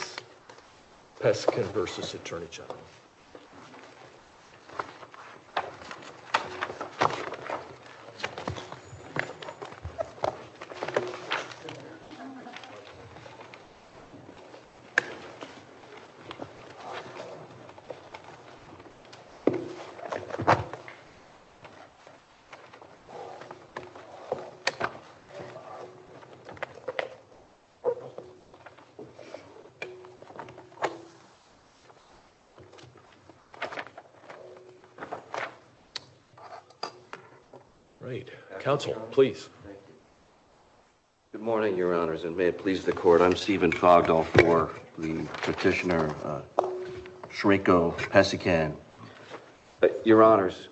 case, Peskin v. Attorney General. Good morning, Your Honors, and may it please the Court, I'm Stephen Fogdell IV, the Petitioner, Shrinko Peskin. Your Honors,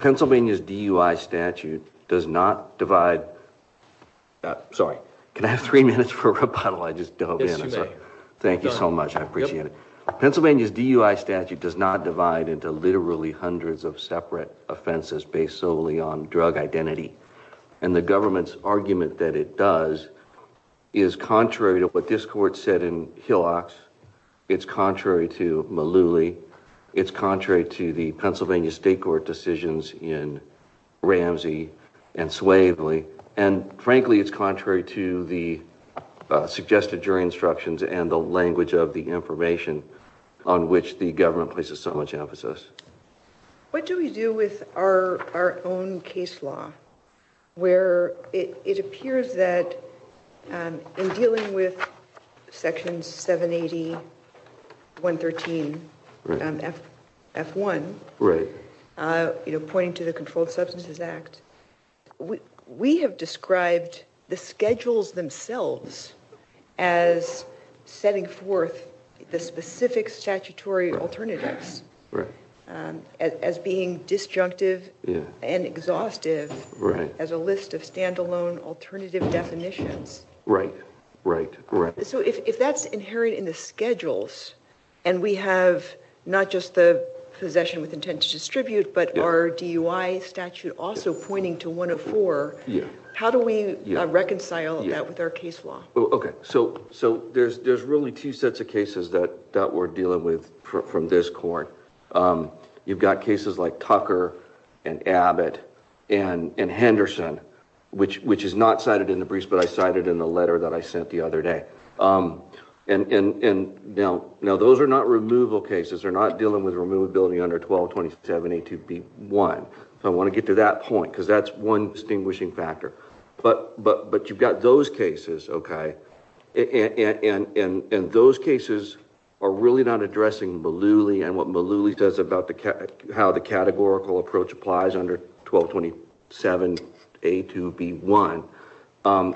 Pennsylvania's DUI statute does not divide—sorry, can I have three minutes for rebuttal? I just dove in. Yes, you may. Thank you so much, I appreciate it. Pennsylvania's DUI statute does not divide into literally hundreds of separate offenses based solely on drug identity, and the government's argument that it does is contrary to what this Court said in Hillox, it's contrary to Mullooly, it's contrary to the Pennsylvania State Court decisions in Ramsey and Swavely, and frankly, it's contrary to the suggested jury instructions and the language of the information on which the government places so much emphasis. What do we do with our own case law, where it appears that in dealing with Section 780.113 F1, pointing to the Controlled Substances Act, we have described the schedules themselves as setting forth the specific statutory alternatives, as being disjunctive and exhaustive as a list of stand-alone alternative definitions. Right, right, right. So if that's inherent in the schedules, and we have not just the possession with intent to distribute, but our DUI statute also pointing to 104, how do we reconcile that with our case law? Okay, so there's really two sets of cases that we're dealing with from this Court. You've got cases like Tucker and Abbott and Henderson, which is not cited in the briefs, but I cite it in the letter that I sent the other day. And now those are not removal cases, they're not dealing with removability under 1227A2B1. I want to get to that point, because that's one distinguishing factor. But you've got those cases, okay, and those cases are really not addressing Malooly and what Malooly says about how the categorical approach applies under 1227A2B1.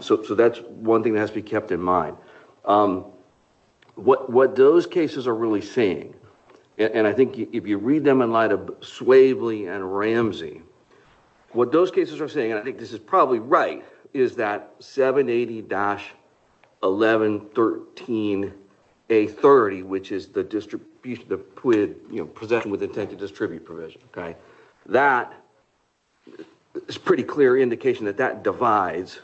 So that's one thing that has to be kept in mind. What those cases are really saying, and I think if you read them in light of Swavely and Ramsey, what those cases are saying, and I think this is probably right, is that 780-1113A30, which is the possession with intent to distribute provision, okay, that is a pretty clear indication that that divides,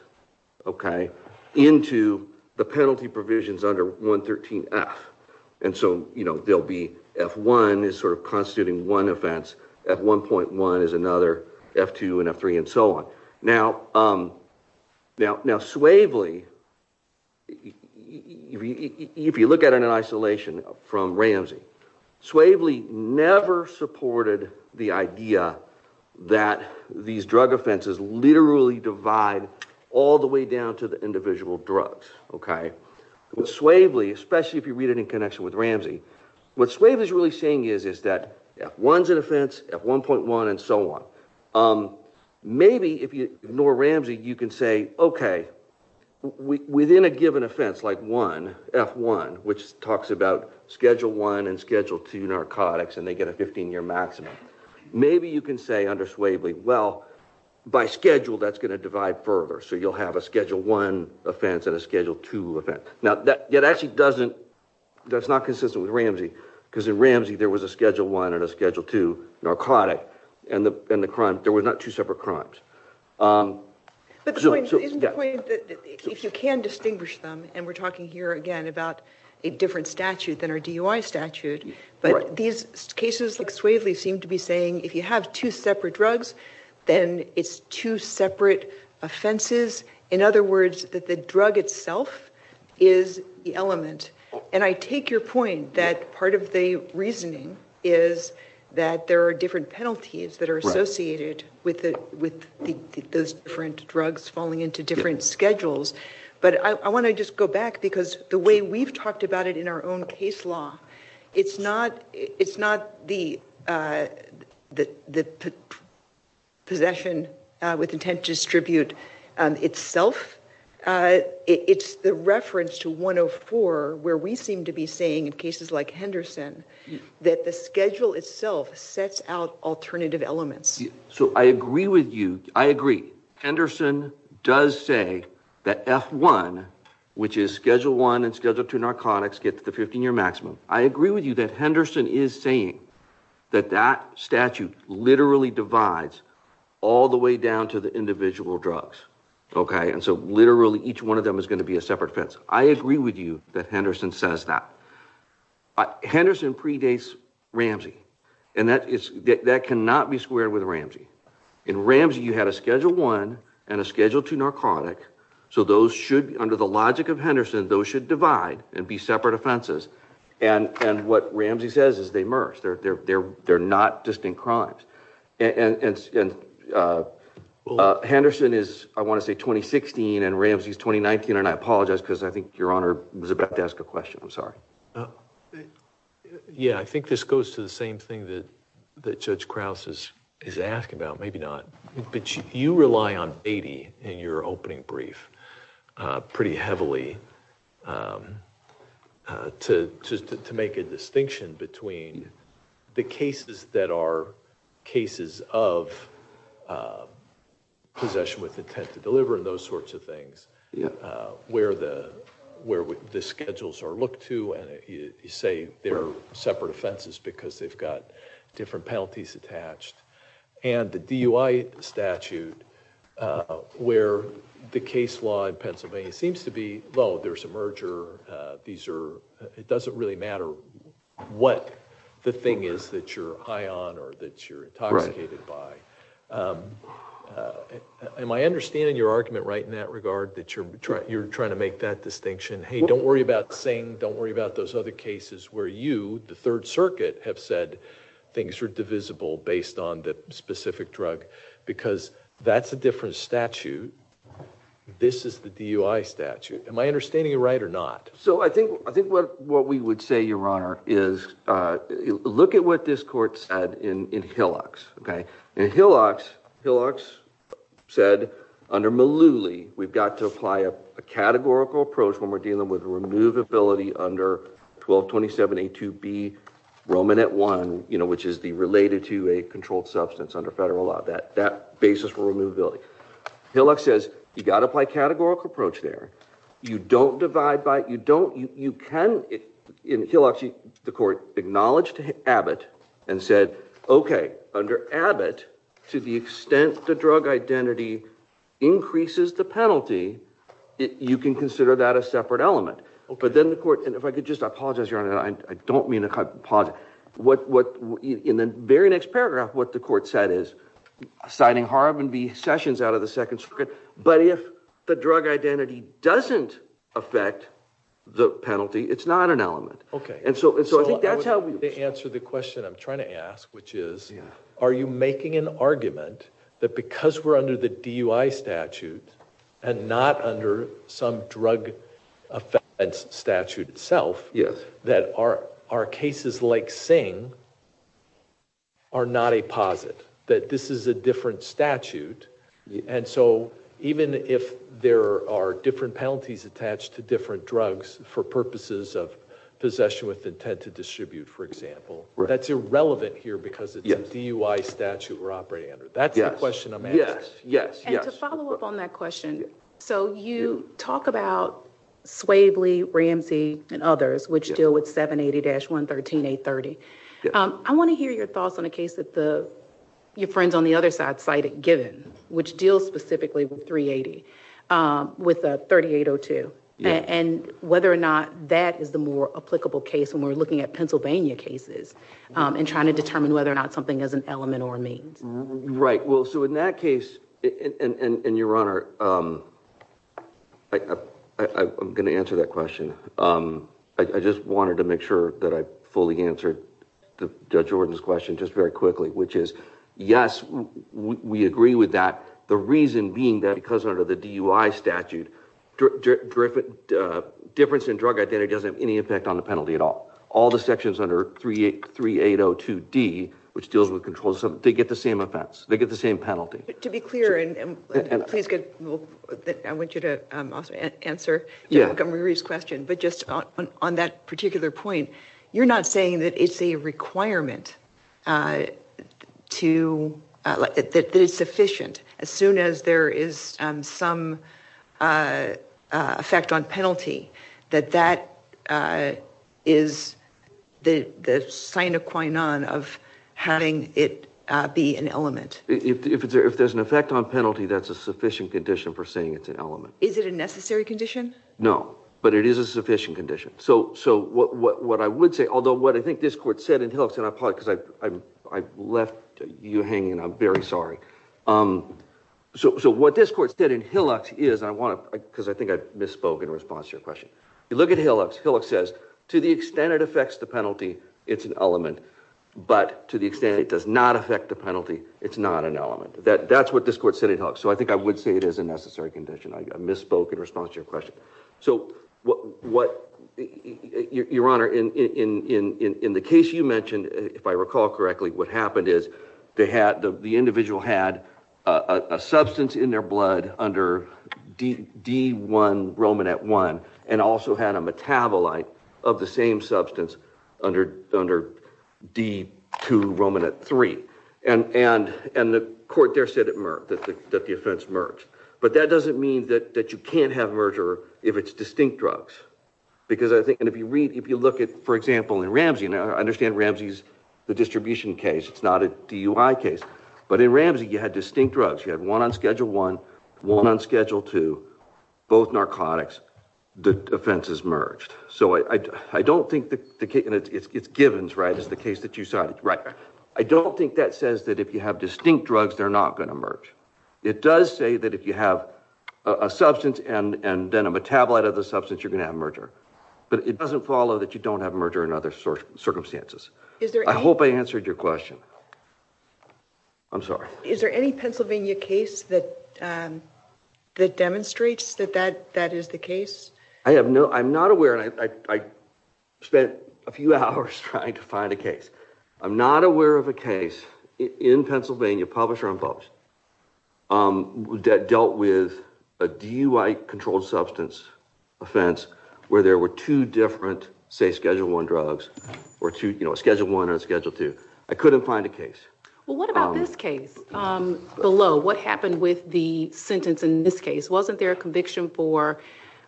okay, into the penalty provisions under 113F. And so, you know, there'll be F1 is sort of constituting one offense, F1.1 is another, F2 and F3 and so on. Now, Swavely, if you look at it in isolation from Ramsey, Swavely never supported the idea that these drug offenses literally divide all the way down to the individual drugs, okay. With Swavely, especially if you read it in connection with Ramsey, what Swavely is really saying is that F1 is an offense, F1.1 and so on. Maybe if you ignore Ramsey, you can say, okay, within a given offense like F1, which talks about Schedule 1 and Schedule 2 narcotics and they get a 15-year maximum, maybe you can say under Swavely, well, by schedule that's going to divide further, so you'll have a Now, that actually doesn't, that's not consistent with Ramsey because in Ramsey there was a Schedule 1 and a Schedule 2 narcotic and the crime, there were not two separate crimes. But the point, isn't the point that if you can distinguish them, and we're talking here again about a different statute than our DUI statute, but these cases like Swavely seem to be saying if you have two separate drugs, then it's two separate offenses. In other words, that the drug itself is the element. And I take your point that part of the reasoning is that there are different penalties that are associated with those different drugs falling into different schedules. But I want to just go back because the way we've talked about it in our own case law, it's not the possession with intent to distribute itself, it's the reference to 104 where we seem to be saying in cases like Henderson that the schedule itself sets out alternative elements. So I agree with you, I agree, Henderson does say that F1, which is Schedule 1 and Schedule 2 narcotics get the 15-year maximum. I agree with you that Henderson is saying that that statute literally divides all the way down to the individual drugs, okay? And so literally each one of them is going to be a separate offense. I agree with you that Henderson says that. Henderson predates Ramsey and that cannot be squared with Ramsey. In Ramsey you had a Schedule 1 and a Schedule 2 narcotic, so those should, under the logic of Henderson, those should divide and be separate offenses. And what Ramsey says is they merge, they're not distinct crimes. Henderson is, I want to say, 2016 and Ramsey is 2019 and I apologize because I think Your Honor was about to ask a question, I'm sorry. Yeah, I think this goes to the same thing that Judge Krause is asking about, maybe not. But you rely on Beatty in your opening brief pretty heavily to make a distinction between the cases that are cases of possession with intent to deliver and those sorts of things, where the schedules are looked to and you say they're separate offenses because they've got different penalties attached. And the DUI statute where the case law in Pennsylvania seems to be, well, there's a merger, these are, it doesn't really matter what the thing is that you're high on or that you're intoxicated by. Am I understanding your argument right in that regard that you're trying to make that distinction, hey, don't worry about Singh, don't worry about those other cases where you, the Third Circuit, have said things are divisible based on the specific drug because that's a different statute. This is the DUI statute. Am I understanding you right or not? So I think what we would say, Your Honor, is look at what this court said in Hillox, okay. In Hillox, Hillox said under Malooly, we've got to apply a categorical approach when we're talking about removability under 1227A2B Romanet I, you know, which is the related to a controlled substance under federal law, that basis for removability. Hillox says you've got to apply a categorical approach there. You don't divide by, you don't, you can, in Hillox, the court acknowledged Abbott and said, okay, under Abbott, to the extent the drug identity increases the penalty, you can consider that a separate element. Okay. But then the court, and if I could just, I apologize, Your Honor, I don't mean to pause, what, in the very next paragraph, what the court said is, signing Harvin v. Sessions out of the Second Circuit, but if the drug identity doesn't affect the penalty, it's not an element. Okay. And so, and so I think that's how we. To answer the question I'm trying to ask, which is, are you making an argument that because we're under the DUI statute, and not under some drug offense statute itself, that our cases like Singh are not a posit, that this is a different statute, and so even if there are different penalties attached to different drugs for purposes of possession with intent to distribute, for example, that's irrelevant here because it's a DUI statute we're operating under. That's the question I'm asking. Yes, yes, yes. And to follow up on that question, so you talk about Swavely, Ramsey, and others, which deal with 780-113-830. I want to hear your thoughts on a case that your friends on the other side cited, Given, which deals specifically with 380, with 3802, and whether or not that is the more applicable case when we're looking at Pennsylvania cases, and trying to determine whether or not something is an element or a means. Right. Well, so in that case, and Your Honor, I'm going to answer that question. I just wanted to make sure that I fully answered Judge Jordan's question just very quickly, which is, yes, we agree with that. The reason being that because under the DUI statute, difference in drug identity doesn't have any impact on the penalty at all. All the sections under 3802D, which deals with controls, they get the same offense. They get the same penalty. To be clear, and please, I want you to answer Judge Montgomery's question, but just on that particular point, you're not saying that it's a requirement to, that it's sufficient as soon as there is some effect on penalty, that that is the sign of having it be an element? If there's an effect on penalty, that's a sufficient condition for saying it's an element. Is it a necessary condition? No. But it is a sufficient condition. So what I would say, although what I think this court said, and I apologize because I am very sorry. So what this court said in Hillock's is, I want to, because I think I misspoke in response to your question. You look at Hillock's. Hillock's says, to the extent it affects the penalty, it's an element. But to the extent it does not affect the penalty, it's not an element. That's what this court said in Hillock's. So I think I would say it is a necessary condition. I misspoke in response to your question. So what, Your Honor, in the case you mentioned, if I recall correctly, what happened is the individual had a substance in their blood under D1-Romonat-1 and also had a metabolite of the same substance under D2-Romonat-3. And the court there said it merged, that the offense merged. But that doesn't mean that you can't have merger if it's distinct drugs. Because I think, and if you read, if you look at, for example, in Ramsey, and I understand Ramsey's, the distribution case, it's not a DUI case, but in Ramsey, you had distinct drugs. You had one on Schedule 1, one on Schedule 2, both narcotics. The offense is merged. So I don't think the case, and it's Givens, right, is the case that you cited, right? I don't think that says that if you have distinct drugs, they're not going to merge. It does say that if you have a substance and then a metabolite of the substance, you're going to have merger. But it doesn't follow that you don't have merger in other circumstances. I hope I answered your question. I'm sorry. Is there any Pennsylvania case that demonstrates that that is the case? I have no, I'm not aware, and I spent a few hours trying to find a case. I'm not aware of a case in Pennsylvania, publisher-imposed, that dealt with a DUI-controlled substance offense where there were two different, say, Schedule 1 drugs, or two, you know, a Schedule 1 and a Schedule 2. I couldn't find a case. Well, what about this case below? What happened with the sentence in this case? Wasn't there a conviction for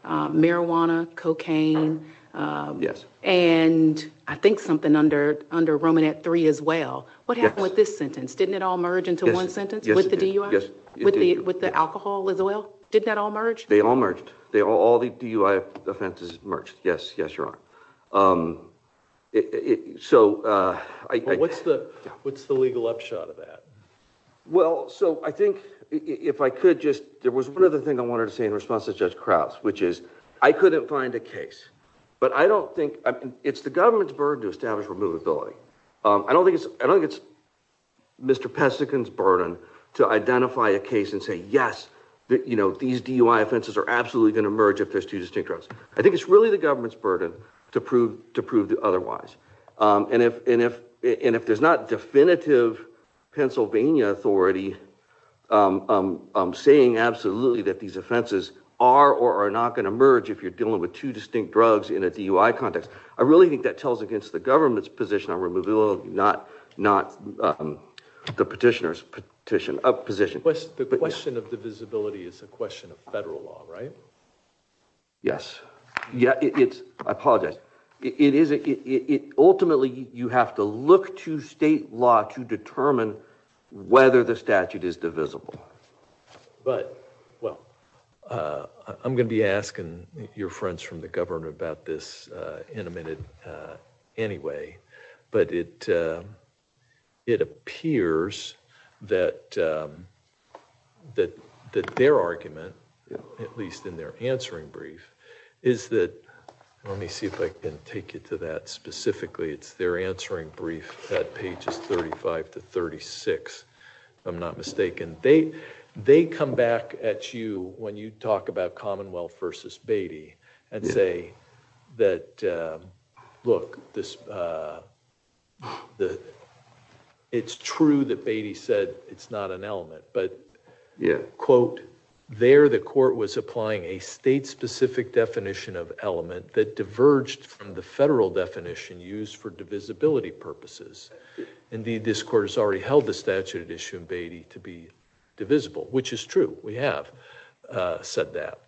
marijuana, cocaine, and I think something under Romanette 3 as well? Yes. What happened with this sentence? Didn't it all merge into one sentence? Yes, it did. With the DUI? Yes, it did. With the alcohol as well? Did that all merge? They all merged. All the DUI offenses merged, yes, yes, Your Honor. So what's the legal upshot of that? Well, so I think if I could just, there was one other thing I wanted to say in response to Judge Krauts, which is I couldn't find a case, but I don't think, it's the government's burden to establish removability. I don't think it's Mr. Pesikin's burden to identify a case and say, yes, these DUI offenses are absolutely going to merge if there's two distinct drugs. I think it's really the government's burden to prove the otherwise, and if there's not definitive Pennsylvania authority saying absolutely that these offenses are or are not going to merge if you're dealing with two distinct drugs in a DUI context, I really think that it's the government's position on removability, not the petitioner's position. The question of divisibility is a question of federal law, right? Yes. I apologize. Ultimately, you have to look to state law to determine whether the statute is divisible. But, well, I'm going to be asking your friends from the government about this in a minute anyway, but it appears that their argument, at least in their answering brief, is that, let me see if I can take you to that specifically, it's their answering brief at pages 35 to 36, if I'm not mistaken. They come back at you when you talk about Commonwealth versus Beatty and say that, look, it's true that Beatty said it's not an element, but, quote, there the court was applying a state-specific definition of element that diverged from the federal definition used for divisibility purposes. Indeed, this court has already held the statute at issue in Beatty to be divisible, which is true. We have said that.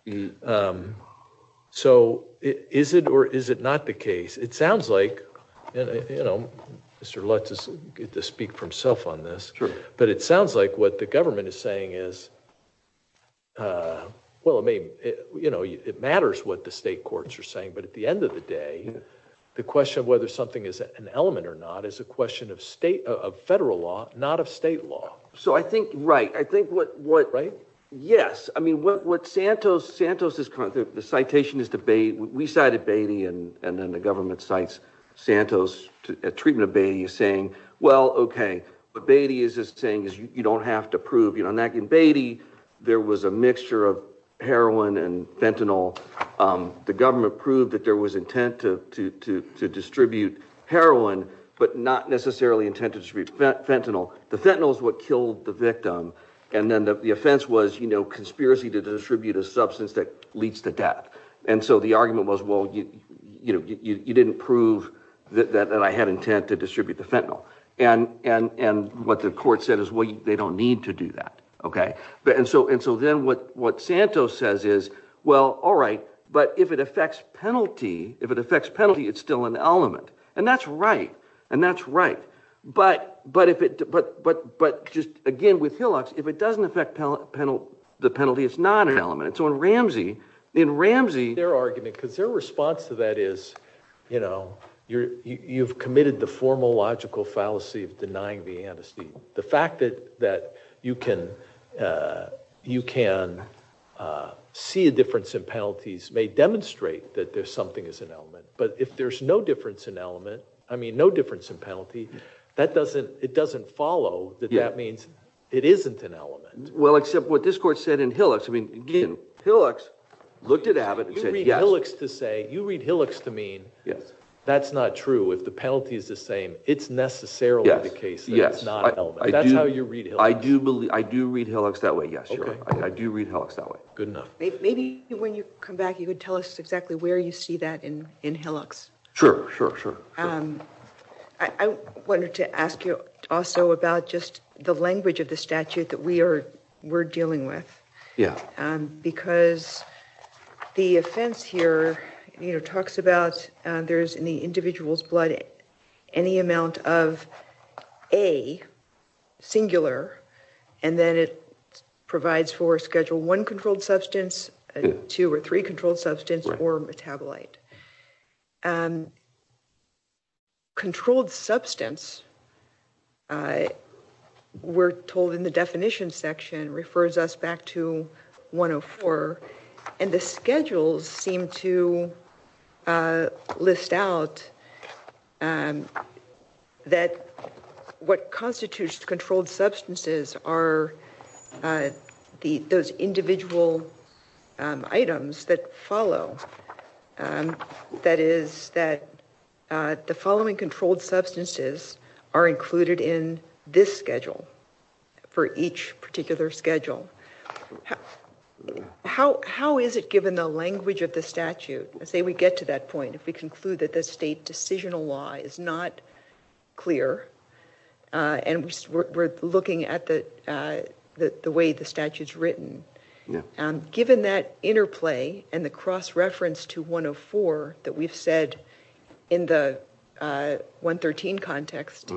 So is it or is it not the case? It sounds like, you know, Mr. Lutz is going to speak for himself on this, but it sounds like what the government is saying is, well, I mean, you know, it matters what the state courts are saying, but at the end of the day, the question of whether something is an element or not is a question of state, of federal law, not of state law. So I think, right. I think what, what, right. Yes. I mean, what, what Santos, Santos is, the citation is debate. We cited Beatty and then the government cites Santos at treatment of Beatty saying, well, okay, but Beatty is just saying is you don't have to prove, you know, in that in Beatty, there was a mixture of heroin and fentanyl. The government proved that there was intent to, to, to, to distribute heroin, but not necessarily intended to distribute fentanyl. The fentanyl is what killed the victim. And then the offense was, you know, conspiracy to distribute a substance that leads to death. And so the argument was, well, you, you know, you, you didn't prove that, that I had intent to distribute the fentanyl and, and, and what the court said is, well, they don't need to do that. Okay. And so, and so then what, what Santos says is, well, all right, but if it affects penalty, if it affects penalty, it's still an element and that's right. And that's right. But, but if it, but, but, but just again with Hillox, if it doesn't affect penalty, the penalty, it's not an element. So in Ramsey, in Ramsey, their argument, because their response to that is, you know, you're, you've committed the formal logical fallacy of denying the antecedent. The fact that, that you can, uh, you can, uh, see a difference in penalties may demonstrate that there's something as an element, but if there's no difference in element, I mean, no difference in penalty, that doesn't, it doesn't follow that that means it isn't an element. Well, except what this court said in Hillox, I mean, Hillox looked at Abbott and said, you read Hillox to say, you read Hillox to mean that's not true. If the penalty is the same, it's necessarily the case that it's not an element. That's how you read Hillox. I do believe, I do read Hillox that way. Yes, I do read Hillox that way. Good enough. Maybe when you come back, you could tell us exactly where you see that in, in Hillox. Sure, sure, sure. I wanted to ask you also about just the language of the statute that we are, we're dealing with. Yeah. Um, because the offense here, you know, talks about, uh, there's in the individual's blood any amount of A singular, and then it provides for schedule one controlled substance, two or three controlled substance or metabolite, um, controlled substance, uh, we're told in the definition section refers us back to one Oh four. And the schedules seem to, uh, list out, um, that what constitutes controlled substances are, uh, the, those individual, um, items that follow, um, that is that, uh, the following controlled substances are included in this schedule for each particular schedule. How, how is it given the language of the statute, let's say we get to that point, if we conclude that the state decisional law is not clear, uh, and we're, we're looking at the, uh, the, the way the statute is written, um, given that interplay and the cross reference to we've said in the, uh, one 13 context,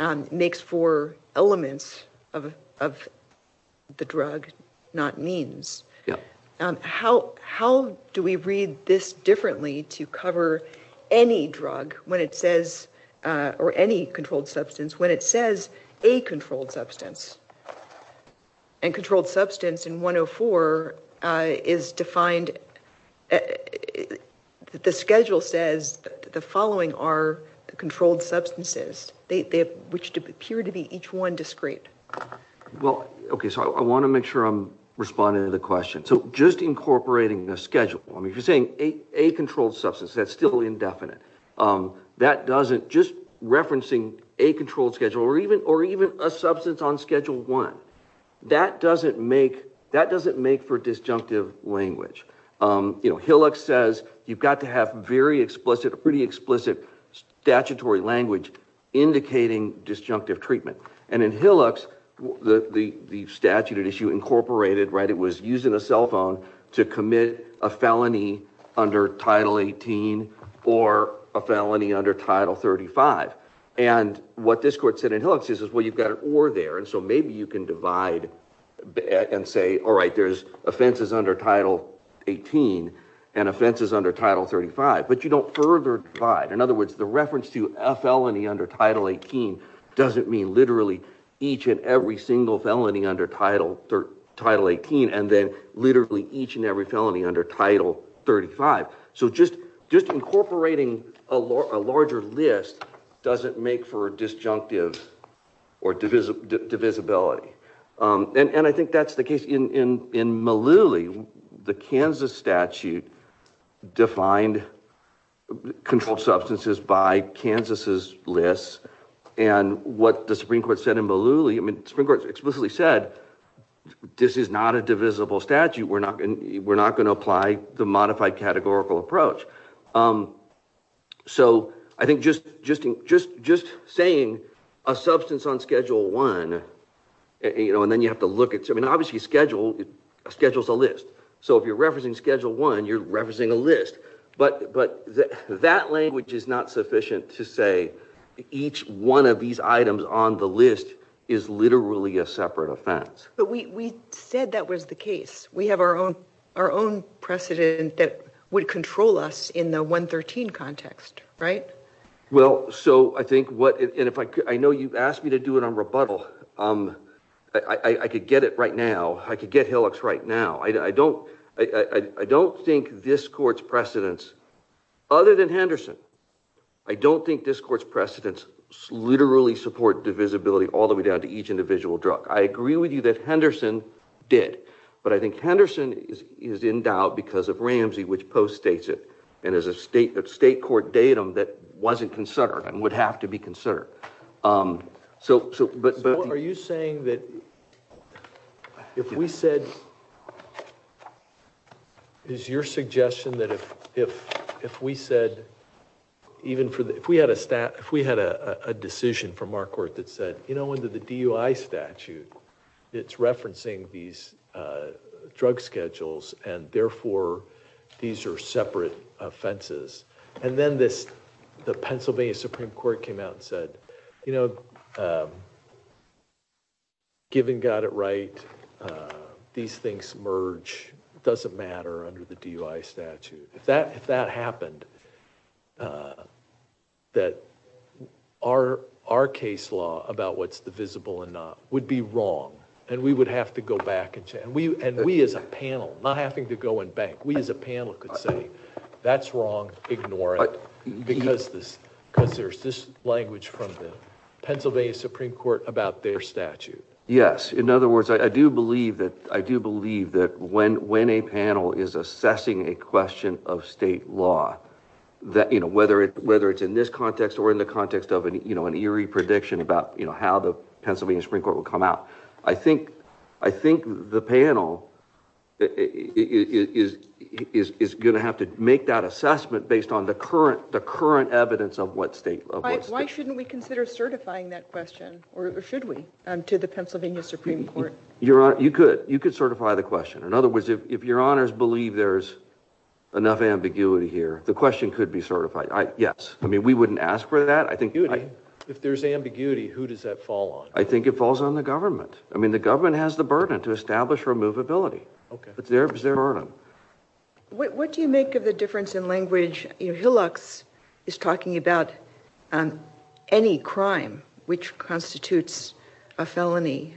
um, makes for elements of, of the drug, not means, um, how, how do we read this differently to cover any drug when it says, uh, or any controlled substance, when it says a controlled substance and controlled substance in one Oh four, uh, is defined, uh, the schedule says that the following are the controlled substances, they, they have, which appear to be each one discreet. Well, okay. So I want to make sure I'm responding to the question. So just incorporating the schedule, I mean, if you're saying a, a controlled substance, that's still indefinite. Um, that doesn't just referencing a controlled schedule or even, or even a substance on schedule one that doesn't make, that doesn't make for disjunctive language. Um, you know, Hillux says you've got to have very explicit, pretty explicit statutory language indicating disjunctive treatment. And in Hillux, the, the, the statute at issue incorporated, right. It was using a cell phone to commit a felony under title 18 or a felony under title 35. And what this court said in Hillux is, well, you've got an or there. And so maybe you can divide and say, all right, there's offenses under title 18 and offenses under title 35, but you don't further divide. In other words, the reference to a felony under title 18 doesn't mean literally each and every single felony under title, title 18. And then literally each and every felony under title 35. So just, just incorporating a law, a larger list doesn't make for a disjunctive or divisive divisibility. Um, and, and I think that's the case in, in, in Malouli, the Kansas statute defined controlled substances by Kansas's lists and what the Supreme Court said in Malouli, I mean, Supreme Court explicitly said, this is not a divisible statute. We're not going to, we're not going to apply the modified categorical approach. Um, so I think just, just, just, just saying a substance on schedule one, you know, and then you have to look at, I mean, obviously schedule schedules a list. So if you're referencing schedule one, you're referencing a list, but, but that language is not sufficient to say each one of these items on the list is literally a separate offense. But we, we said that was the case. We have our own, our own precedent that would control us in the 113 context, right? Well, so I think what, and if I could, I know you've asked me to do it on rebuttal. Um, I could get it right now. I could get hillocks right now. I don't, I don't think this court's precedents other than Henderson. I don't think this court's precedents literally support divisibility all the way down to each individual drug. I agree with you that Henderson did, but I think Henderson is, is in doubt because of Ramsey, which post states it. And as a state, a state court datum that wasn't considered and would have to be considered. Um, so, so, but, but are you saying that if we said, is your suggestion that if, if, if we said even for the, if we had a stat, if we had a decision from our court that said, you know, under the DUI statute, it's referencing these, uh, drug schedules and therefore these are separate offenses. And then this, the Pennsylvania Supreme Court came out and said, you know, um, given, got it right. Uh, these things merge. It doesn't under the DUI statute. If that, if that happened, uh, that our, our case law about what's the visible and not would be wrong. And we would have to go back and we, and we as a panel, not having to go in bank, we as a panel could say that's wrong, ignore it because this, because there's this language from the Pennsylvania Supreme Court about their statute. Yes. In other words, I do believe that, I do believe that when, when a panel is assessing a question of state law that, you know, whether it, whether it's in this context or in the context of an, you know, an eerie prediction about, you know, how the Pennsylvania Supreme Court will come out. I think, I think the panel is, is, is going to have to make that assessment based on the current, the current evidence of what state. Why shouldn't we consider certifying that Supreme Court? Your honor, you could, you could certify the question. In other words, if your honors believe there's enough ambiguity here, the question could be certified. I, yes. I mean, we wouldn't ask for that. I think if there's ambiguity, who does that fall on? I think it falls on the government. I mean, the government has the burden to establish removability. Okay. It's their, it's their burden. What, what do you make of the difference in language? You know, Hillox is talking about any crime which constitutes a felony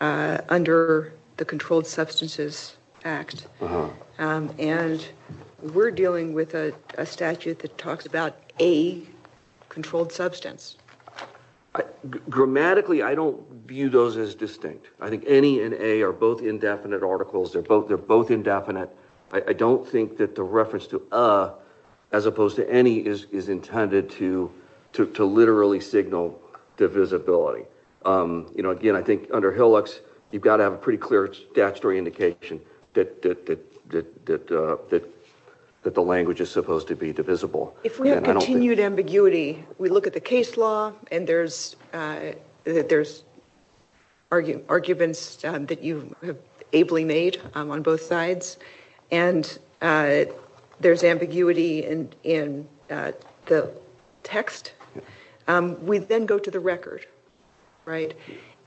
under the Controlled Substances Act. And we're dealing with a statute that talks about a controlled substance. Grammatically, I don't view those as distinct. I think any and a are indefinite articles. They're both, they're both indefinite. I, I don't think that the reference to a, as opposed to any is, is intended to, to, to literally signal divisibility. You know, again, I think under Hillox, you've got to have a pretty clear statutory indication that, that, that, that, that, that the language is supposed to be divisible. If we have continued ambiguity, we look at the case law and there's, there's arguments that you have ably made on both sides. And there's ambiguity in, in the text. We then go to the record, right?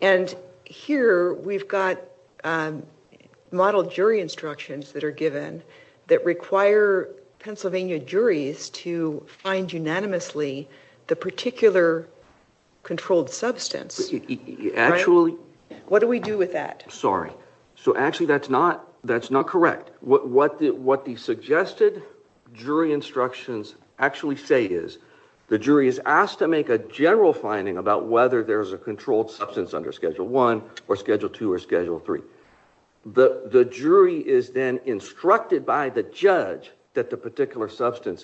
And here we've got model jury instructions that are given that require Pennsylvania juries to find unanimously the particular controlled substance. Actually. What do we do with that? Sorry. So actually that's not, that's not correct. What, what the, what the suggested jury instructions actually say is the jury is asked to make a general finding about whether there's a controlled substance under Schedule 1 or Schedule 2 or Schedule 3. The, the jury is then instructed by the judge that the the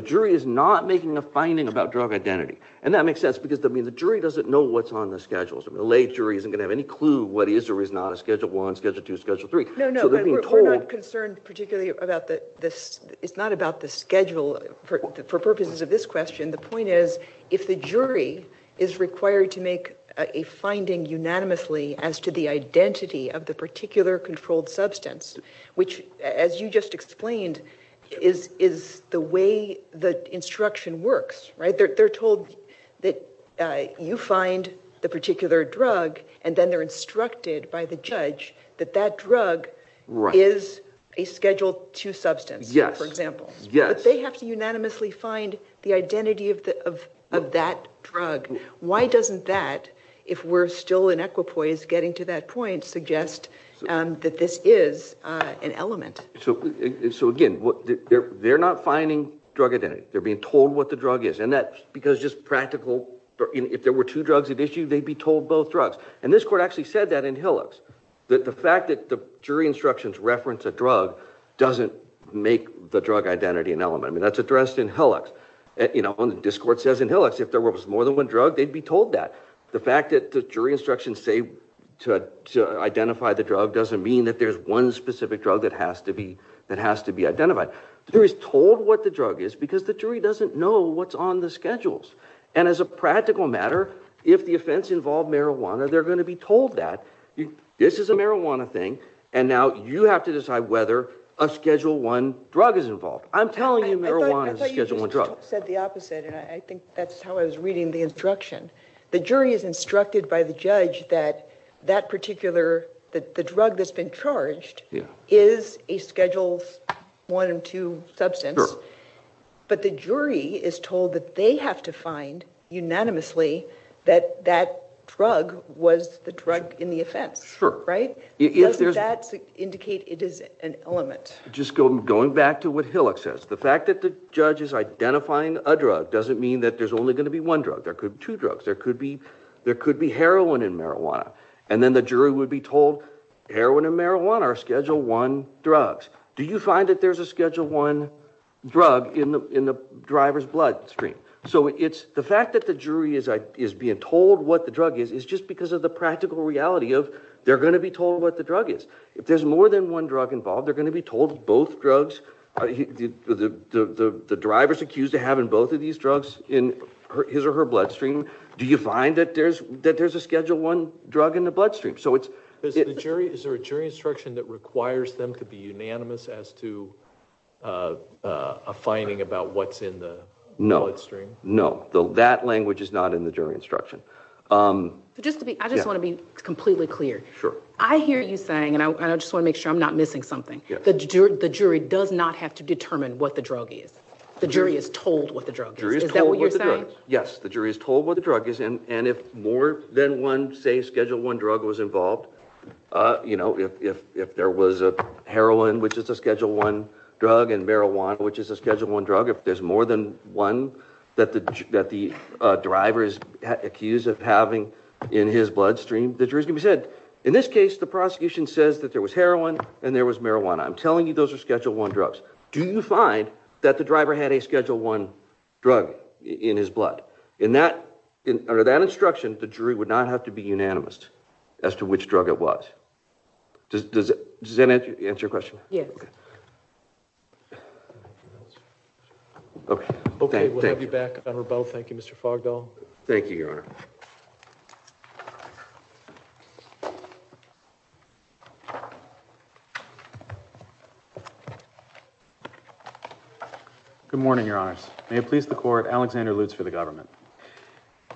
jury is not making a finding about drug identity. And that makes sense because I mean, the jury doesn't know what's on the schedules. I mean, the lay jury isn't going to have any clue what is or is not a Schedule 1, Schedule 2, Schedule 3. We're not concerned particularly about that. This is not about the schedule for purposes of this question. The point is if the jury is required to make a finding unanimously as to the identity of the particular controlled substance, which as you just explained is, is the way the instruction works, right? They're, they're told that you find the particular drug and then they're instructed by the judge that that drug is a Schedule 2 substance, for example. But they have to unanimously find the identity of the, of, of that drug. Why doesn't that, if we're still in equipoise getting to that point, suggest that this is an element? So, so again, what they're, they're not finding drug identity. They're being told what the drug is. And that's because just practical, if there were two drugs at issue, they'd be told both drugs. And this court actually said that in Hillux. That the fact that the jury instructions reference a drug doesn't make the drug identity an element. I mean, that's addressed in Hillux. You know, and this court says in Hillux, if there to identify the drug doesn't mean that there's one specific drug that has to be, that has to be identified. The jury's told what the drug is because the jury doesn't know what's on the schedules. And as a practical matter, if the offense involved marijuana, they're going to be told that this is a marijuana thing. And now you have to decide whether a Schedule 1 drug is involved. I'm telling you marijuana is a Schedule 1 drug. I thought you just said the opposite. And I think that's how I was reading the instruction. The jury is instructed by the judge that that particular, that the drug that's been charged is a Schedules 1 and 2 substance. But the jury is told that they have to find unanimously that that drug was the drug in the offense. Doesn't that indicate it is an element? Just going back to what Hillux says, the fact that the judge is identifying a drug doesn't mean that there's only going to be one drug. There could be two drugs. There could be heroin and marijuana. And then the jury would be told heroin and marijuana are Schedule 1 drugs. Do you find that there's a Schedule 1 drug in the driver's bloodstream? So it's the fact that the jury is being told what the drug is, is just because of the practical reality of they're going to be told what the drug is. If there's more than one drug involved, they're going to be told both drugs. The driver's accused of having both of these drugs in his or her bloodstream. Do you find that there's a Schedule 1 drug in the bloodstream? Is there a jury instruction that requires them to be unanimous as to a finding about what's in the bloodstream? No. That language is not in the jury instruction. I just want to be completely clear. I hear you and I just want to make sure I'm not missing something. The jury does not have to determine what the drug is. The jury is told what the drug is. Is that what you're saying? Yes. The jury is told what the drug is. And if more than one, say, Schedule 1 drug was involved, if there was a heroin, which is a Schedule 1 drug, and marijuana, which is a Schedule 1 drug, if there's more than one that the driver is accused of having in his bloodstream, the jury's going to be said, in this case, the prosecution says that there was heroin and there was marijuana. I'm telling you those are Schedule 1 drugs. Do you find that the driver had a Schedule 1 drug in his blood? Under that instruction, the jury would not have to be unanimous as to which drug it was. Does that answer your question? Yes. Okay. We'll have you back, Governor Bowe. Thank you, Mr. Fogdoll. Thank you, Your Honor. Good morning, Your Honors. May it please the Court, Alexander Lutz for the government.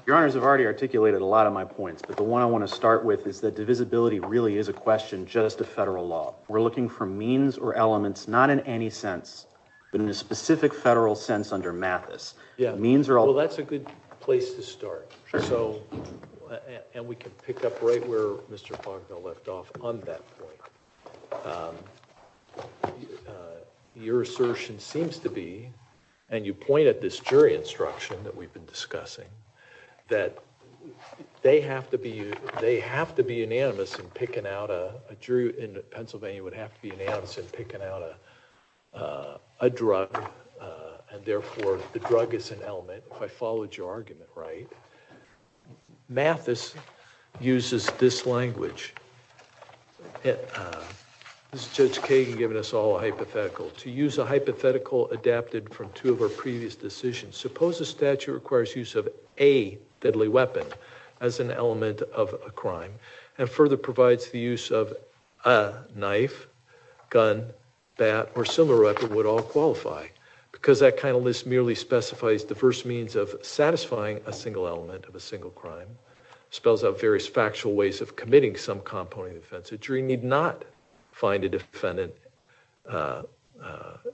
Your Honors, I've already articulated a lot of my points, but the one I want to start with is that divisibility really is a question just of federal law. We're looking for means or elements, not in any sense, but in a specific federal sense under Mathis. Yeah. Well, that's a good place to start. And we can pick up right where Mr. Fogdoll left off on that point. Your assertion seems to be, and you point at this jury instruction that we've been discussing, that they have to be unanimous in picking out a jury in Pennsylvania would have to be unanimous in picking out a drug. And therefore, the drug is an element, if I followed your argument right. Mathis uses this language. This is Judge Kagan giving us all a hypothetical. To use a hypothetical adapted from two of our previous decisions, suppose a statute requires use of a deadly weapon as an element of a crime and further provides the use of a knife, gun, bat, or similar weapon would all qualify. Because that kind of list merely specifies diverse means of satisfying a single element of a single crime. Spells out various factual ways of committing some component of offense. A jury need not find a defendant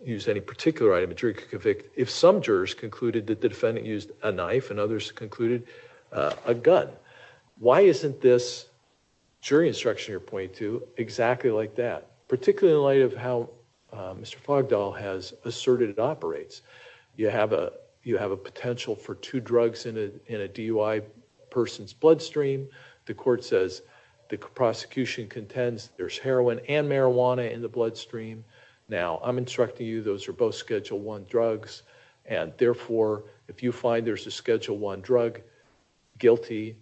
use any particular item. A jury could convict if some jurors concluded that the defendant used a knife and others concluded a gun. Why isn't this jury instruction you're pointing to exactly like that? Particularly in light of how Mr. Fogdall has asserted it operates. You have a potential for two drugs in a DUI person's bloodstream. The court says the prosecution contends there's heroin and marijuana in the bloodstream. Now I'm instructing you those are both schedule one drugs and therefore, if you find there's a schedule one drug guilty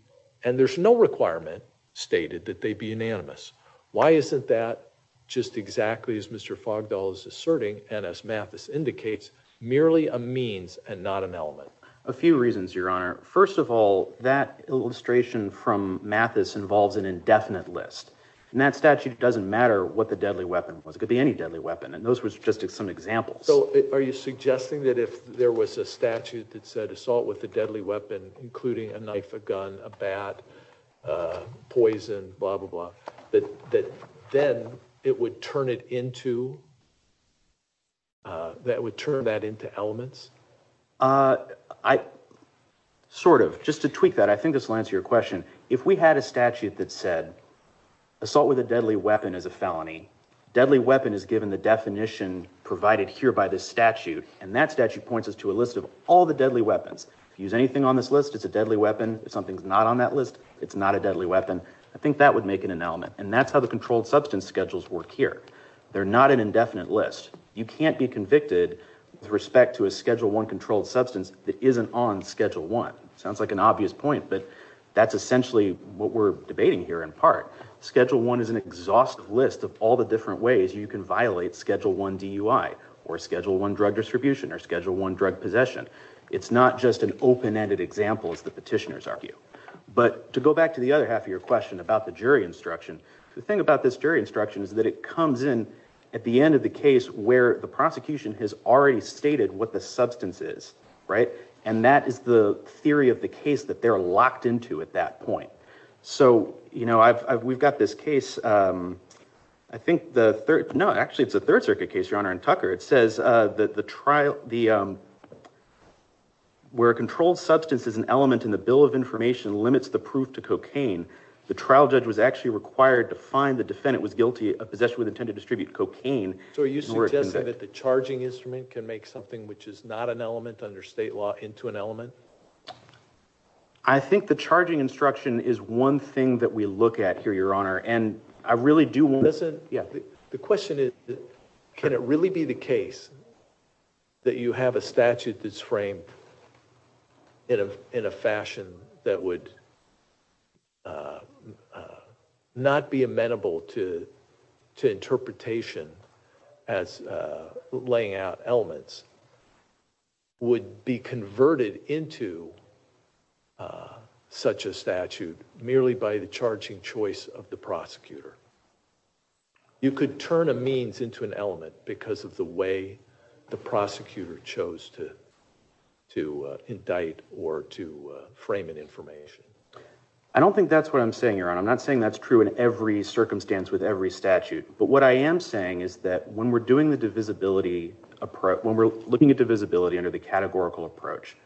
and there's no requirement stated that they be unanimous. Why isn't that just exactly as Mr. Fogdall is asserting and as Mathis indicates merely a means and not an element? A few reasons your honor. First of all that illustration from Mathis involves an indefinite list and that statute doesn't matter what the deadly weapon was. It could be any deadly weapon and those were just some examples. So are you suggesting that if there was a statute that said assault with a deadly weapon including a knife, a gun, a bat, poison, blah blah blah, that then it would turn it into that would turn that into elements? I sort of just to tweak that I think this will answer your question. If we had a statute that said assault with a deadly weapon is a felony. Deadly weapon is given the definition provided here by this statute and that statute points us to a list of all the deadly weapons. If you use anything on this list it's a deadly weapon. If something's not on that list it's not a deadly weapon. I think that would make it an element and that's how the controlled substance schedules work here. They're not an indefinite list. You can't be convicted with respect to a schedule one controlled substance that isn't on schedule one. Sounds like an obvious point but that's essentially what we're debating here in part. Schedule one is an exhaustive list of all the different ways you can violate schedule one DUI or schedule one drug distribution or schedule one drug possession. It's not just an open-ended example as the petitioners argue. But to go back to the other half of your question about the jury instruction, the thing about this jury instruction is that it comes in at the end of the case where the prosecution has already stated what the substance is, right, and that is the theory of the case that they're locked into at that point. So, you know, we've got this case, I think the third, no actually it's a third circuit case, your honor, in Tucker. It says that the trial, where a controlled substance is an element in the bill of information limits the proof to cocaine, the trial judge was actually required to find the defendant was guilty of possession with intent to distribute cocaine. So are you suggesting that the charging instrument can make something which is not an element under state law into an element? I think the charging instruction is one thing that we look at here, your honor, and I really do want... The question is can it really be the case that you have a statute that's framed in a fashion that would not be amenable to interpretation as laying out elements, would be converted into such a statute merely by the charging choice of the prosecutor. You could turn a means into an element because of the way the prosecutor chose to to indict or to frame an information. I don't think that's what I'm saying, your honor. I'm not saying that's true in every circumstance with every statute, but what I am saying is that when doing the divisibility approach, when we're looking at divisibility under the categorical approach,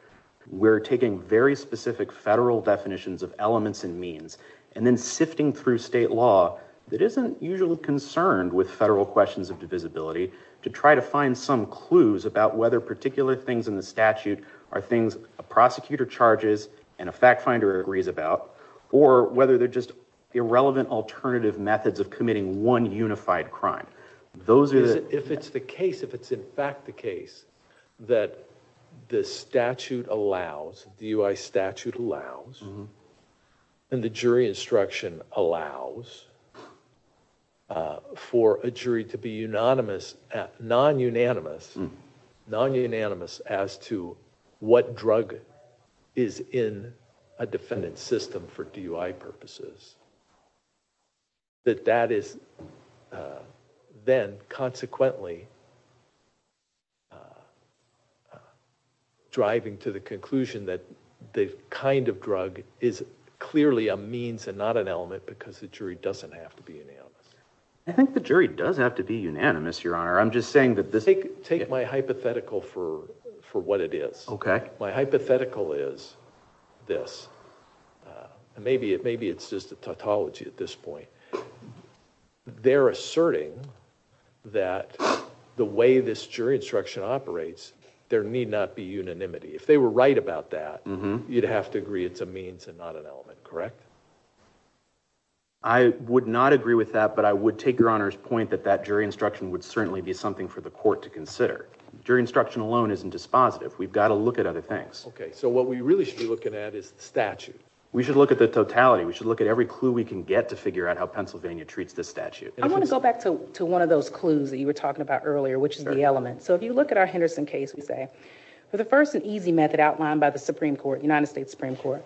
we're taking very specific federal definitions of elements and means and then sifting through state law that isn't usually concerned with federal questions of divisibility to try to find some clues about whether particular things in the statute are things a prosecutor charges and a fact finder agrees about or whether they're just irrelevant alternative methods of if it's the case, if it's in fact the case, that the statute allows, DUI statute allows, and the jury instruction allows for a jury to be unanimous, non-unanimous, non-unanimous as to what drug is in a defendant's system for DUI purposes. That that is then consequently driving to the conclusion that the kind of drug is clearly a means and not an element because the jury doesn't have to be unanimous. I think the jury does have to be unanimous, your honor. I'm just saying that this... Take my hypothetical for what it is. Okay. My hypothetical is this. Maybe it's just a tautology at this point. They're asserting that the way this jury instruction operates, there need not be unanimity. If they were right about that, you'd have to agree it's a means and not an element, correct? I would not agree with that, but I would take your honor's point that that jury instruction would certainly be something for the court to consider. Jury instruction alone isn't dispositive. We've got to look at other things. Okay. So what we really should be looking at is the statute. We should look at the totality. We should look at every clue we can get to figure out how Pennsylvania treats this statute. I want to go back to one of those clues that you were talking about earlier, which is the element. So if you look at our Henderson case, we say for the first and easy method outlined by the Supreme Court, United States Supreme Court,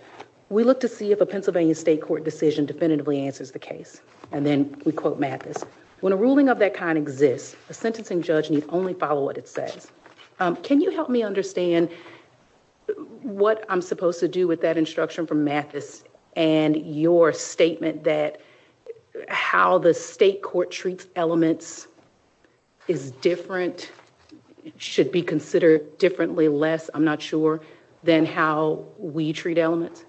we look to see if a Pennsylvania state court decision definitively answers the case. And then we quote Mathis, when a ruling of that kind exists, a sentencing judge need only follow what it says. Can you help me understand what I'm supposed to do with that instruction from Mathis and your statement that how the state court treats elements is different, should be considered differently less, I'm not sure, than how we treat elements?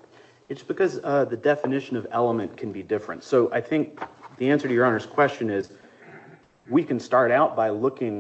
It's because the definition of element can be different. So I think the answer to your honor's question is we can start out by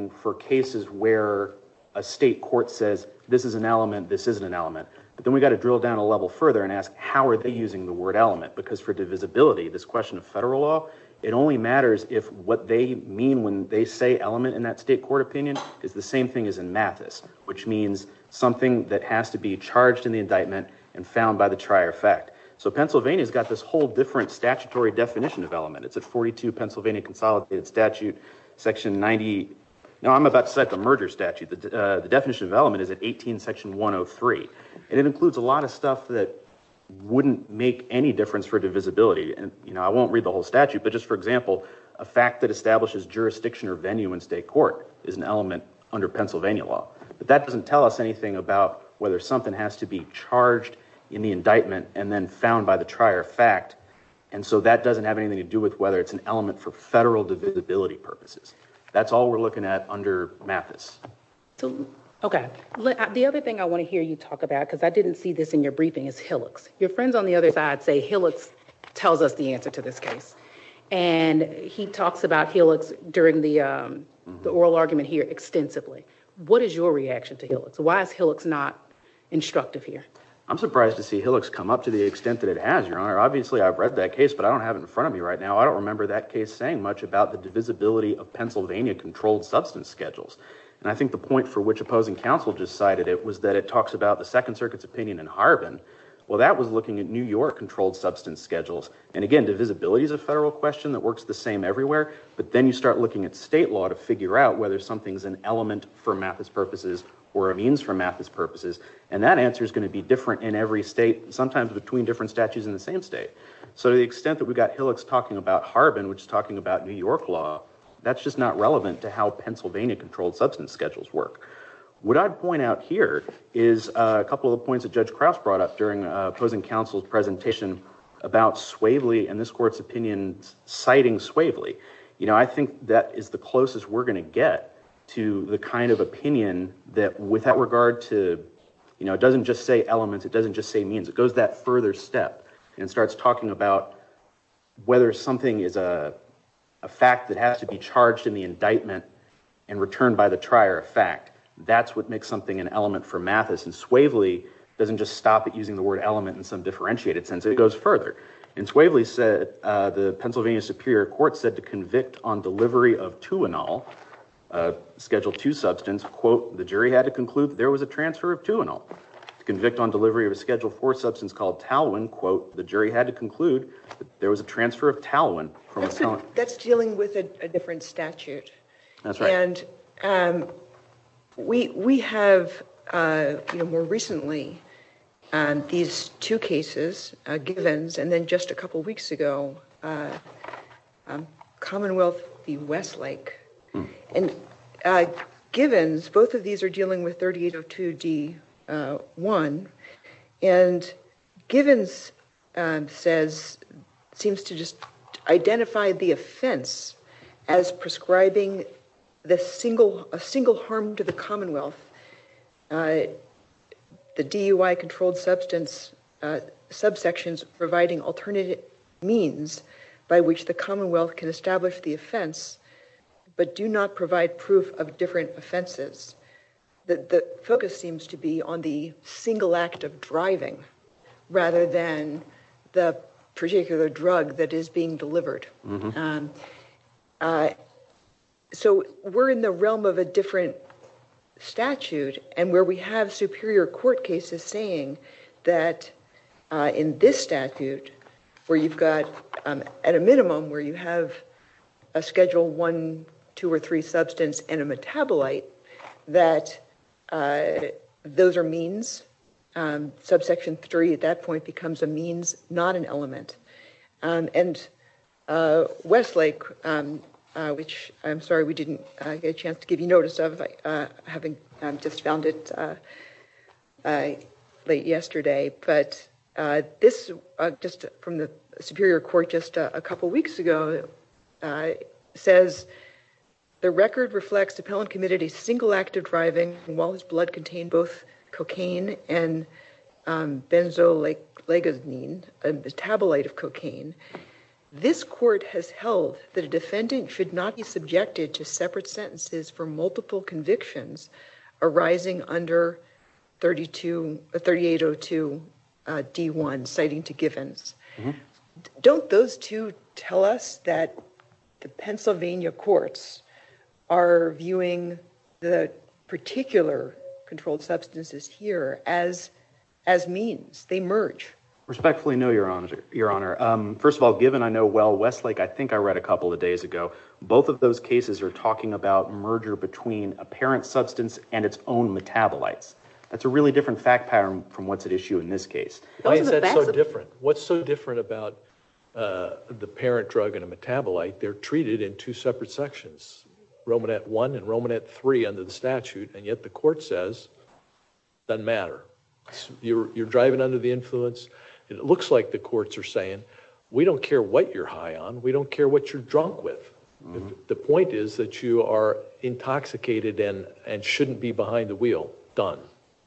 for cases where a state court says this is an element, this isn't an element. But then we got to drill down a level further and ask how are they using the word element? Because for divisibility, this question of federal law, it only matters if what they mean when they say element in that state court opinion is the same thing as in Mathis, which means something that has to be charged in the indictment and found by the trier fact. So Pennsylvania has got this whole different statutory definition of element. It's at 42 Pennsylvania Consolidated Statute, section 90. Now I'm about to cite the merger statute. The definition of element is at 18 section 103. And it includes a lot of stuff that wouldn't make any difference for divisibility. And, you know, I won't read the whole statute, but just for example, a fact that establishes jurisdiction or venue in state court is an element under Pennsylvania law. But that doesn't tell us anything about whether something has to be charged in the indictment and then found by the trier fact and so that doesn't have anything to do with whether it's an element for federal divisibility purposes. That's all we're looking at under Mathis. Okay. The other thing I want to hear you talk about, because I didn't see this in your briefing, is Hillocks. Your friends on the other side say Hillocks tells us the answer to this case. And he talks about Hillocks during the oral argument here extensively. What is your reaction to Hillocks? Why is Hillocks not instructive here? I'm surprised to see Hillocks come up to the extent that it has, Your Honor. Obviously, I've read that case, but I don't have it in front of me right now. I don't remember that case saying much about the divisibility of Pennsylvania controlled substance schedules. And I think the point for which opposing counsel just cited it was that it talks about the Second Circuit's opinion in Harbin. Well, that was looking at New York controlled substance schedules. And again, divisibility is a federal question that works the same everywhere. But then you start looking at state law to figure out whether something's an element for Mathis purposes or a means for Mathis purposes. And that answer is going to be different in every state, sometimes between different statutes in the same state. So to the extent that we've got Hillocks talking about Harbin, which is talking about New York law, that's just not relevant to how Pennsylvania controlled substance schedules work. What I'd point out here is a couple of points that Judge Krause brought up during opposing counsel's presentation about Swavely and this court's opinion citing Swavely. I think that is the closest we're going to get to the kind of opinion that with that regard to, you know, it doesn't just say elements, it doesn't just say means. It goes that further step and starts talking about whether something is a fact that has to be charged in the indictment and returned by the trier of fact. That's what makes something an element for Mathis. And Swavely doesn't just stop at using the word element in some differentiated sense. It goes further. And Swavely said the Pennsylvania Superior Court said to convict on delivery of 2-anol, Schedule 2 substance, quote, the jury had to conclude there was a transfer of 2-anol. To convict on delivery of a Schedule 4 substance called Talwin, quote, the jury had to conclude there was a transfer of Talwin. That's dealing with a different statute. That's right. And we have, you know, more recently, these two cases, Givens and then just a couple weeks ago, Commonwealth v. Westlake. And Givens, both of these are dealing with 3802D1. And Givens says, seems to just identify the offense as prescribing a single harm to the Commonwealth. The DUI-controlled substance subsections providing alternative means by which the Commonwealth can establish the offense but do not provide proof of different offenses. The focus seems to be on the single act of driving rather than the particular drug that is being delivered. So we're in the realm of a different statute and where we have Superior Court cases saying that in this statute, where you've got at a minimum where you have a Schedule 1, 2, or 3 substance and a metabolite, that those are means. Subsection 3 at that point becomes a and Westlake, which I'm sorry we didn't get a chance to give you notice of, having just found it late yesterday. But this, just from the Superior Court just a couple weeks ago, says the record reflects Appellant committed a single act of driving while his blood contained both cocaine. This court has held that a defendant should not be subjected to separate sentences for multiple convictions arising under 3802D1, citing to Givens. Don't those two tell us that the Pennsylvania courts are viewing the particular controlled substances here as means? They merge. Respectfully no, Your Honor. First of all, given I know well Westlake, I think I read a couple of days ago, both of those cases are talking about merger between a parent substance and its own metabolites. That's a really different fact pattern from what's at issue in this case. Why is that so different? What's so different about the parent drug and a metabolite? They're treated in two separate sections, Romanette I and Romanette III under the statute, and yet the court says doesn't matter. You're driving under the influence. It looks like the courts are saying, we don't care what you're high on. We don't care what you're drunk with. The point is that you are intoxicated and shouldn't be behind the wheel. Done.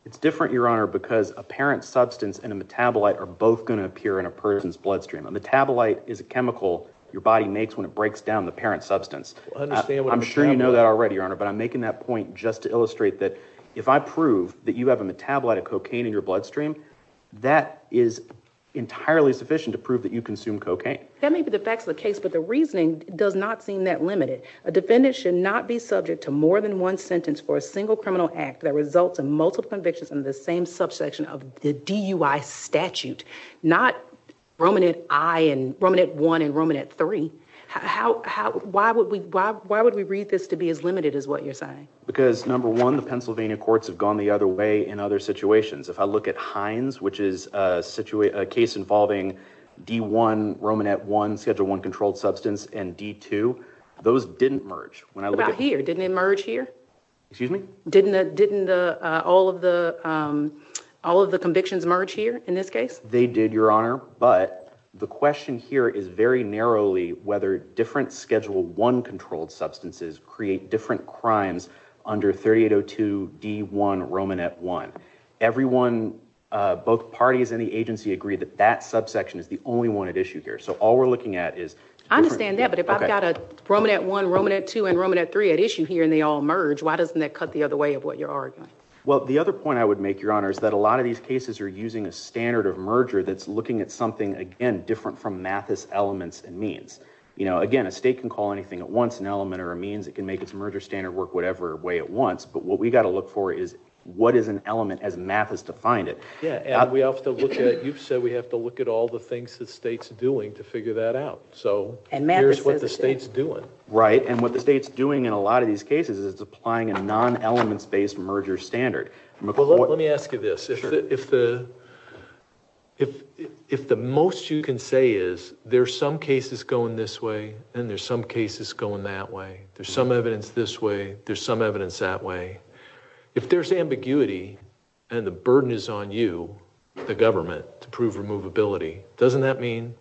It's different, Your Honor, because a parent substance and a metabolite are both going to appear in a person's bloodstream. A metabolite is a chemical your body makes when it breaks down the parent substance. I'm sure you know that already, Your Honor, but I'm making that point just to illustrate that if I prove that you have a metabolite of cocaine in your bloodstream, that is entirely sufficient to prove that you consume cocaine. That may be the facts of the case, but the reasoning does not seem that limited. A defendant should not be subject to more than one sentence for a single criminal act that results in multiple convictions in the same subsection of the DUI statute, not Romanette I and Romanette I and Romanette III. Why would we read this to be as limited as what you're saying? Because, number one, the Pennsylvania courts have gone the other way in other situations. If I look at Hines, which is a case involving D1, Romanette I, Schedule I controlled substance, and D2, those didn't merge. What about here? Didn't it merge here? Excuse me? Didn't all of the convictions merge here in this case? They did, Your Honor, but the question here is very narrowly whether different Schedule I controlled substances create different crimes under 3802 D1, Romanette I. Everyone, both parties in the agency agree that that subsection is the only one at issue here, so all we're looking at is... I understand that, but if I've got Romanette I, Romanette II, and Romanette III at issue here and they all merge, why doesn't that cut the way of what you're arguing? Well, the other point I would make, Your Honor, is that a lot of these cases are using a standard of merger that's looking at something, again, different from Mathis elements and means. You know, again, a state can call anything at once an element or a means. It can make its merger standard work whatever way it wants, but what we've got to look for is what is an element as Mathis defined it. Yeah, and we have to look at... You've said we have to look at all the things the state's doing to figure that out, so here's what the state's doing. Right, and what the state's doing in a lot of these cases is it's applying a non-elements-based merger standard. Well, let me ask you this. If the most you can say is there's some cases going this way and there's some cases going that way, there's some evidence this way, there's some evidence that way, if there's ambiguity and the burden is on you, the government, to prove removability, doesn't that mean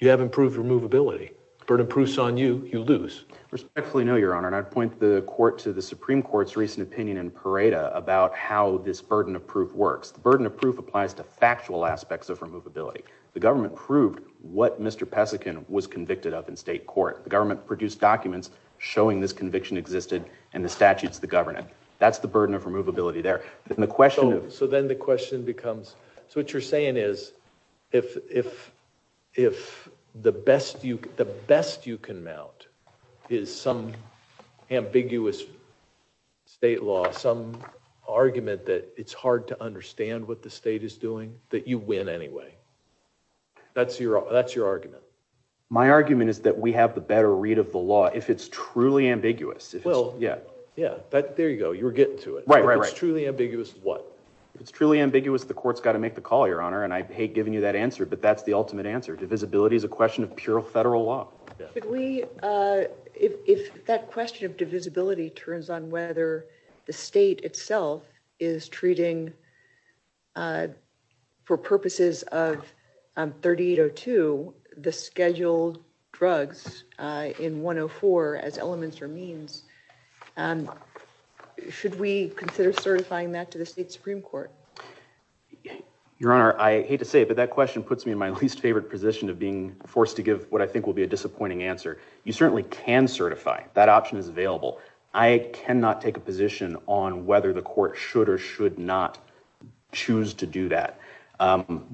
you haven't proved removability? Burden proves on you, you lose. Respectfully, no, Your Honor, and I'd point the court to the Supreme Court's recent opinion in Pareto about how this burden of proof works. The burden of proof applies to factual aspects of removability. The government proved what Mr. Pesikin was convicted of in state court. The government produced documents showing this conviction existed and the statutes that govern it. That's the burden of removability there. So then the question becomes... So what you're saying is if the best you can mount is some ambiguous state law, some argument that it's hard to understand what the state is doing, that you win anyway. That's your argument. My argument is that we have the better read of the law if it's truly ambiguous. Well, yeah, there you go. You're getting to it. If it's truly ambiguous, what? If it's truly ambiguous, the court's got to make the call, Your Honor, and I hate giving you that answer, but that's the ultimate answer. Divisibility is a question of federal law. If that question of divisibility turns on whether the state itself is treating for purposes of 3802 the scheduled drugs in 104 as elements or means, should we consider certifying that to the state Supreme Court? Your Honor, I hate to say it, but that question puts me in my least favorite position of being forced to give what I think will be a disappointing answer. You certainly can certify. That option is available. I cannot take a position on whether the court should or should not choose to do that.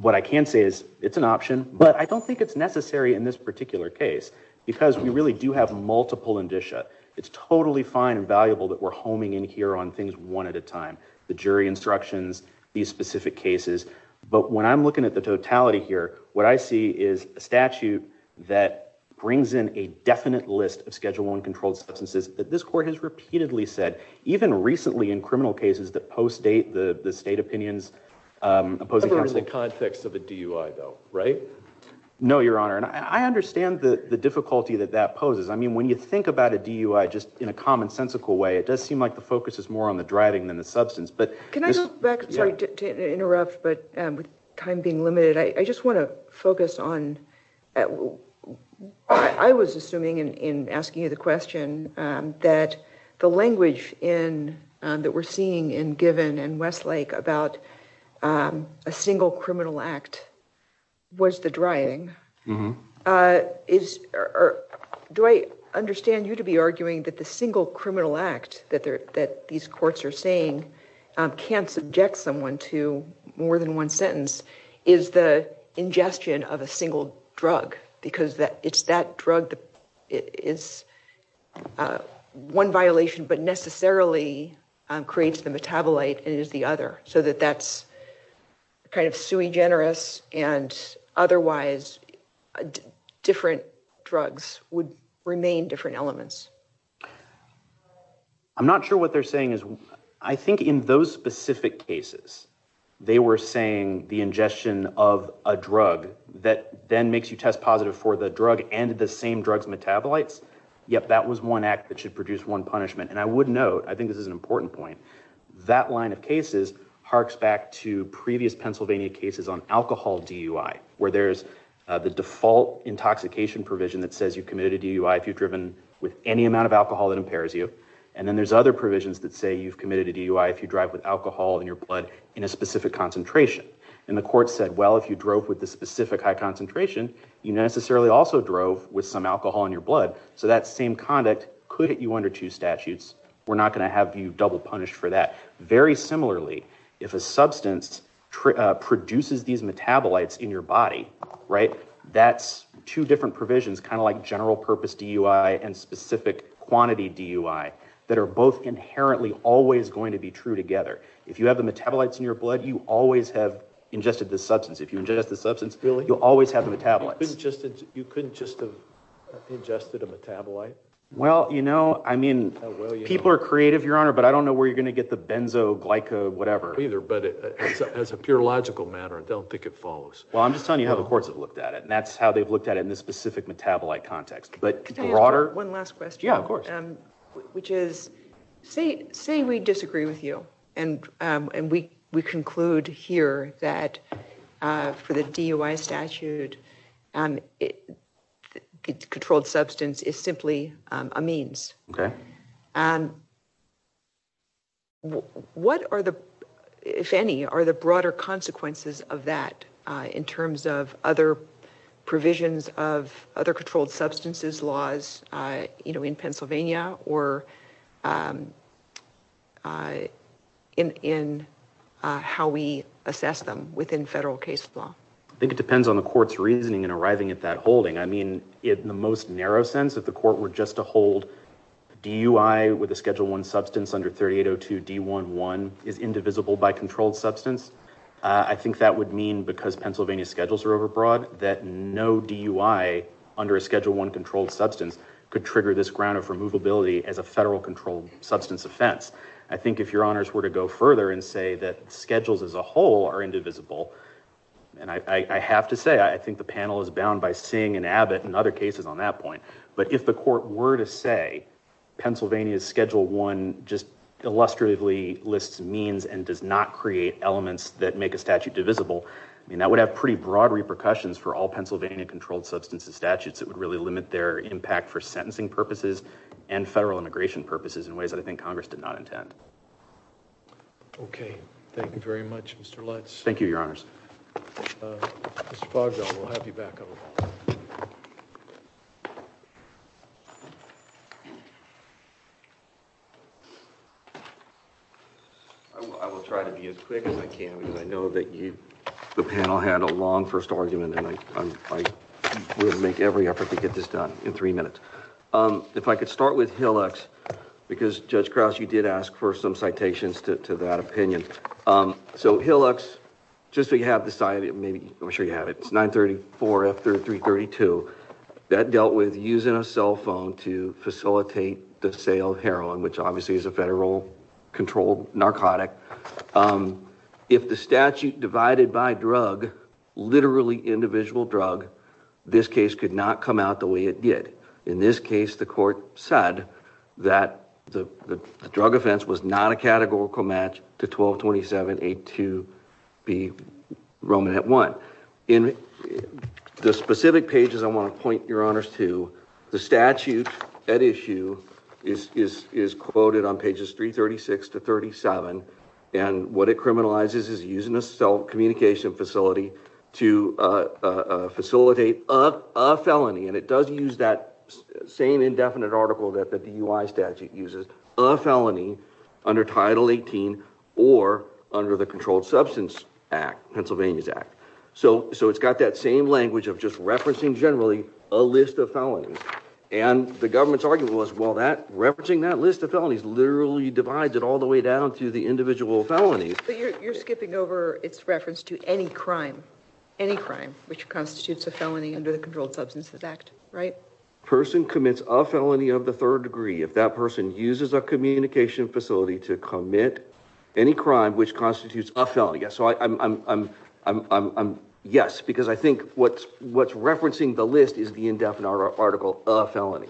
What I can say is it's an option, but I don't think it's necessary in this particular case because we really do have multiple indicia. It's totally fine and valuable that we're homing in here on things one at a time, the jury instructions, these specific cases, but when I'm looking at the totality here, what I see is a statute that brings in a definite list of Schedule I controlled substances that this court has repeatedly said, even recently in criminal cases that post-date the state opinions. I've heard the context of a DUI, though, right? No, Your Honor, and I understand the difficulty that that poses. I mean, when you think about a DUI just in a commonsensical way, it does seem like the focus is more on the driving than the time being limited. I just want to focus on, I was assuming in asking you the question, that the language that we're seeing in Given and Westlake about a single criminal act was the driving. Do I understand you to be arguing that the single criminal act that these courts are saying can't subject someone to more than one sentence is the ingestion of a single drug, because it's that drug that is one violation but necessarily creates the metabolite and is the other, so that that's kind of sui generis and otherwise different drugs would remain different elements? I'm not sure what they're saying is, I think in those specific cases they were saying the ingestion of a drug that then makes you test positive for the drug and the same drug's metabolites. Yep, that was one act that should produce one punishment, and I would note, I think this is an important point, that line of cases harks back to previous Pennsylvania cases on alcohol DUI, where there's the default intoxication provision that says you've committed a DUI if you've driven with any amount of alcohol that impairs you, and then there's other provisions that say you've committed a DUI if you drive with alcohol in your blood in a specific concentration, and the court said, well, if you drove with the specific high concentration, you necessarily also drove with some alcohol in your blood, so that same conduct could hit you under two statutes. We're not going to have you double punished for that. Very similarly, if a substance produces these metabolites in your body, right, that's two different provisions, kind of like general purpose DUI and specific quantity DUI, that are both inherently always going to be true together. If you have the metabolites in your blood, you always have ingested the substance. If you ingest the substance, you'll always have the metabolites. You couldn't just have ingested a metabolite? Well, you know, I mean, people are creative, Your Honor, but I don't know where you're going to get the benzo, glyco, whatever. Either, but as a pure logical matter, I don't think it follows. Well, I'm just telling you how the courts have looked at it, and that's how they've looked at it in a specific metabolite context. Can I ask one last question? Yeah, of course. Which is, say we disagree with you, and we conclude here that for the DUI statute, controlled substance is simply a means. What are the, if any, are the broader consequences of that in terms of other provisions of other controlled substances laws, you know, in Pennsylvania, or in how we assess them within federal case law? I think it depends on the court's reasoning and arriving at that holding. I mean, in the most narrow sense, if the court were just to hold DUI with a Schedule I substance under 3802 D-1-1 is indivisible by controlled substance, I think that would mean, because Pennsylvania schedules are overbroad, that no DUI under a Schedule I controlled substance could trigger this ground of removability as a federal controlled substance offense. I think if your honors were to go further and say that schedules as a whole are indivisible, and I have to say, I think the panel is bound by Singh and Abbott and other cases on that point, but if the court were to say Pennsylvania's Schedule I just illustratively lists means and does not create elements that make a statute divisible, I mean, that would have pretty broad repercussions for all Pennsylvania controlled substances statutes. It would really limit their impact for sentencing purposes and federal immigration purposes in ways that I think Congress did not intend. Okay. Thank you very much, Mr. Lutz. Thank you, your honors. I will try to be as quick as I can because I know that the panel had a long first argument and I will make every effort to get this done in three minutes. If I could start with Hillux, because Judge Krause, you did ask for some citations to that opinion. So Hillux, just so you have the site, I'm sure you have it, it's 934F332. That dealt with using a cell phone to facilitate the sale of heroin, which obviously is a federal controlled narcotic. If the statute divided by drug, literally individual drug, this case could not come out the way it did. In this case, the court said that the drug offense was not a categorical match to 1227A2B Roman at one. In the specific pages I want to point your honors to, the statute at issue is quoted on pages 336 to 37 and what it criminalizes is using a cell and it does use that same indefinite article that the DUI statute uses, a felony under Title 18 or under the Controlled Substance Act, Pennsylvania's Act. So it's got that same language of just referencing generally a list of felonies and the government's argument was referencing that list of felonies literally divides it all the way down to the individual felonies. You're skipping over its reference to any crime, any crime which constitutes a felony under the Controlled Substances Act, right? A person commits a felony of the third degree if that person uses a communication facility to commit any crime which constitutes a felony. Yes, so I'm, yes, because I think what's referencing the list is the indefinite article of felony.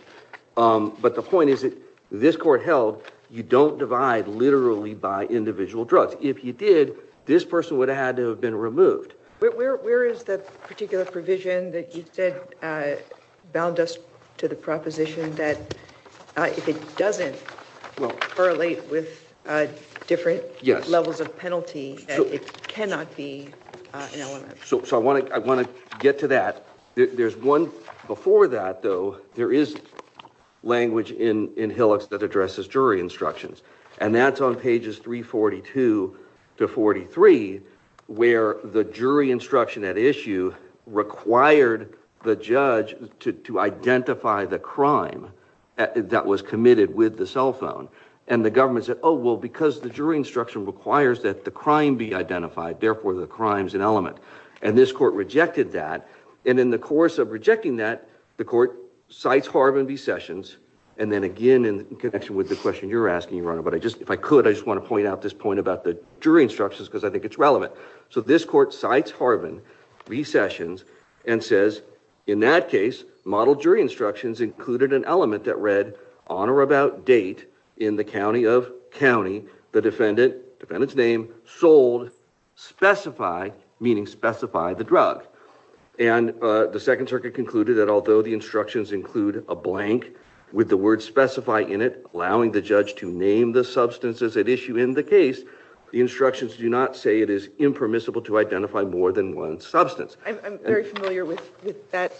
But the point is that this court held you don't divide literally by individual drugs. If you did, this person would have had to have been removed. Where is that particular provision that you said bound us to the proposition that if it doesn't correlate with different levels of penalty, it cannot be an element? So I want to get to that. There's one before that though, there is language in in hillocks that addresses jury instructions and that's on pages 342 to 43 where the jury instruction at issue required the judge to identify the crime that was committed with the cell phone and the government said oh well because the jury instruction requires that the crime be identified therefore the crime's an element and this court rejected that and in the course of rejecting that the court cites Harvin v. Sessions and then again in connection with the question you're asking your honor but I just if I could I just want to point out this point about the jury instructions because I think it's relevant so this court cites Harvin v. Sessions and says in that case model jury instructions included an element that read on or about date in the county of county the defendant defendant's name sold specify meaning specify the drug and the second circuit concluded that although the instructions include a blank with the word specify in it allowing the judge to name the substances at issue in the case the instructions do not say it is impermissible to identify more than one substance. I'm very familiar with with that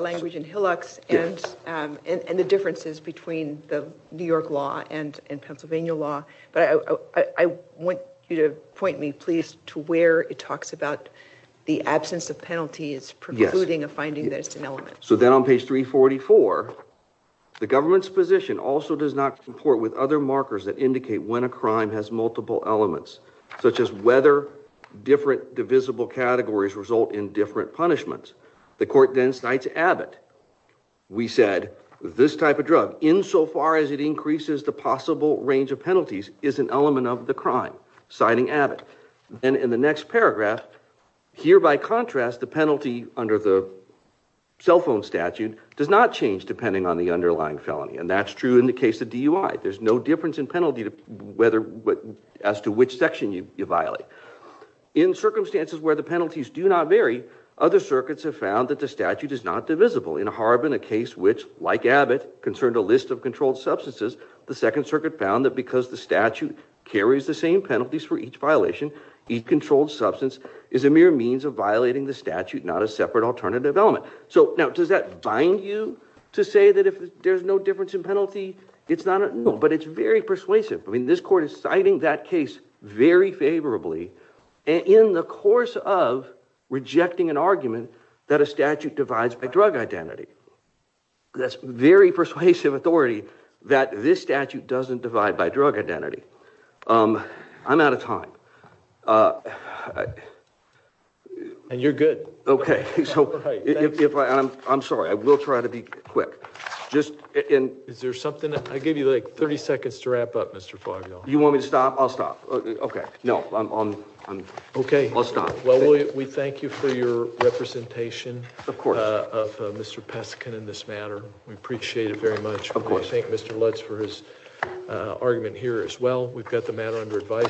language in hillocks and and the differences between the New York law and and Pennsylvania law but I I want you to point me please to where it talks about the absence of penalties precluding a finding that it's an element. So then on page 344 the government's position also does not comport with other markers that indicate when a crime has multiple elements such as whether different divisible categories result in different punishments. The court then cites Abbott. We said this type of drug insofar as it increases the possible range of penalties is an element of the crime citing Abbott and in the next paragraph here by contrast the penalty under the cell phone statute does not change depending on the underlying felony and that's true in the case of DUI. There's no difference in penalty to whether what as to which section you violate in circumstances where the penalties do not vary other circuits have found that the statute is not divisible in Harbin a case which like Abbott concerned a list of controlled substances the second circuit found that because the statute carries the same penalties for each violation each controlled substance is a mere means of violating the statute not a separate alternative element. So now does that bind you to say that if there's no difference in penalty it's not no but it's very persuasive. I mean this court is citing that case very favorably in the course of rejecting an argument that a statute divides by drug identity. That's very persuasive authority that this statute doesn't divide by drug identity. I'm out of time. And you're good. Okay so if I I'm sorry I will try to be quick just in is there something I gave you like 30 seconds to wrap up Mr. Fogel. You want me to okay no I'm on I'm okay. Well we thank you for your representation of Mr. Peskin in this matter. We appreciate it very much. We thank Mr. Lutz for his argument here as well. We've got the matter under advisement.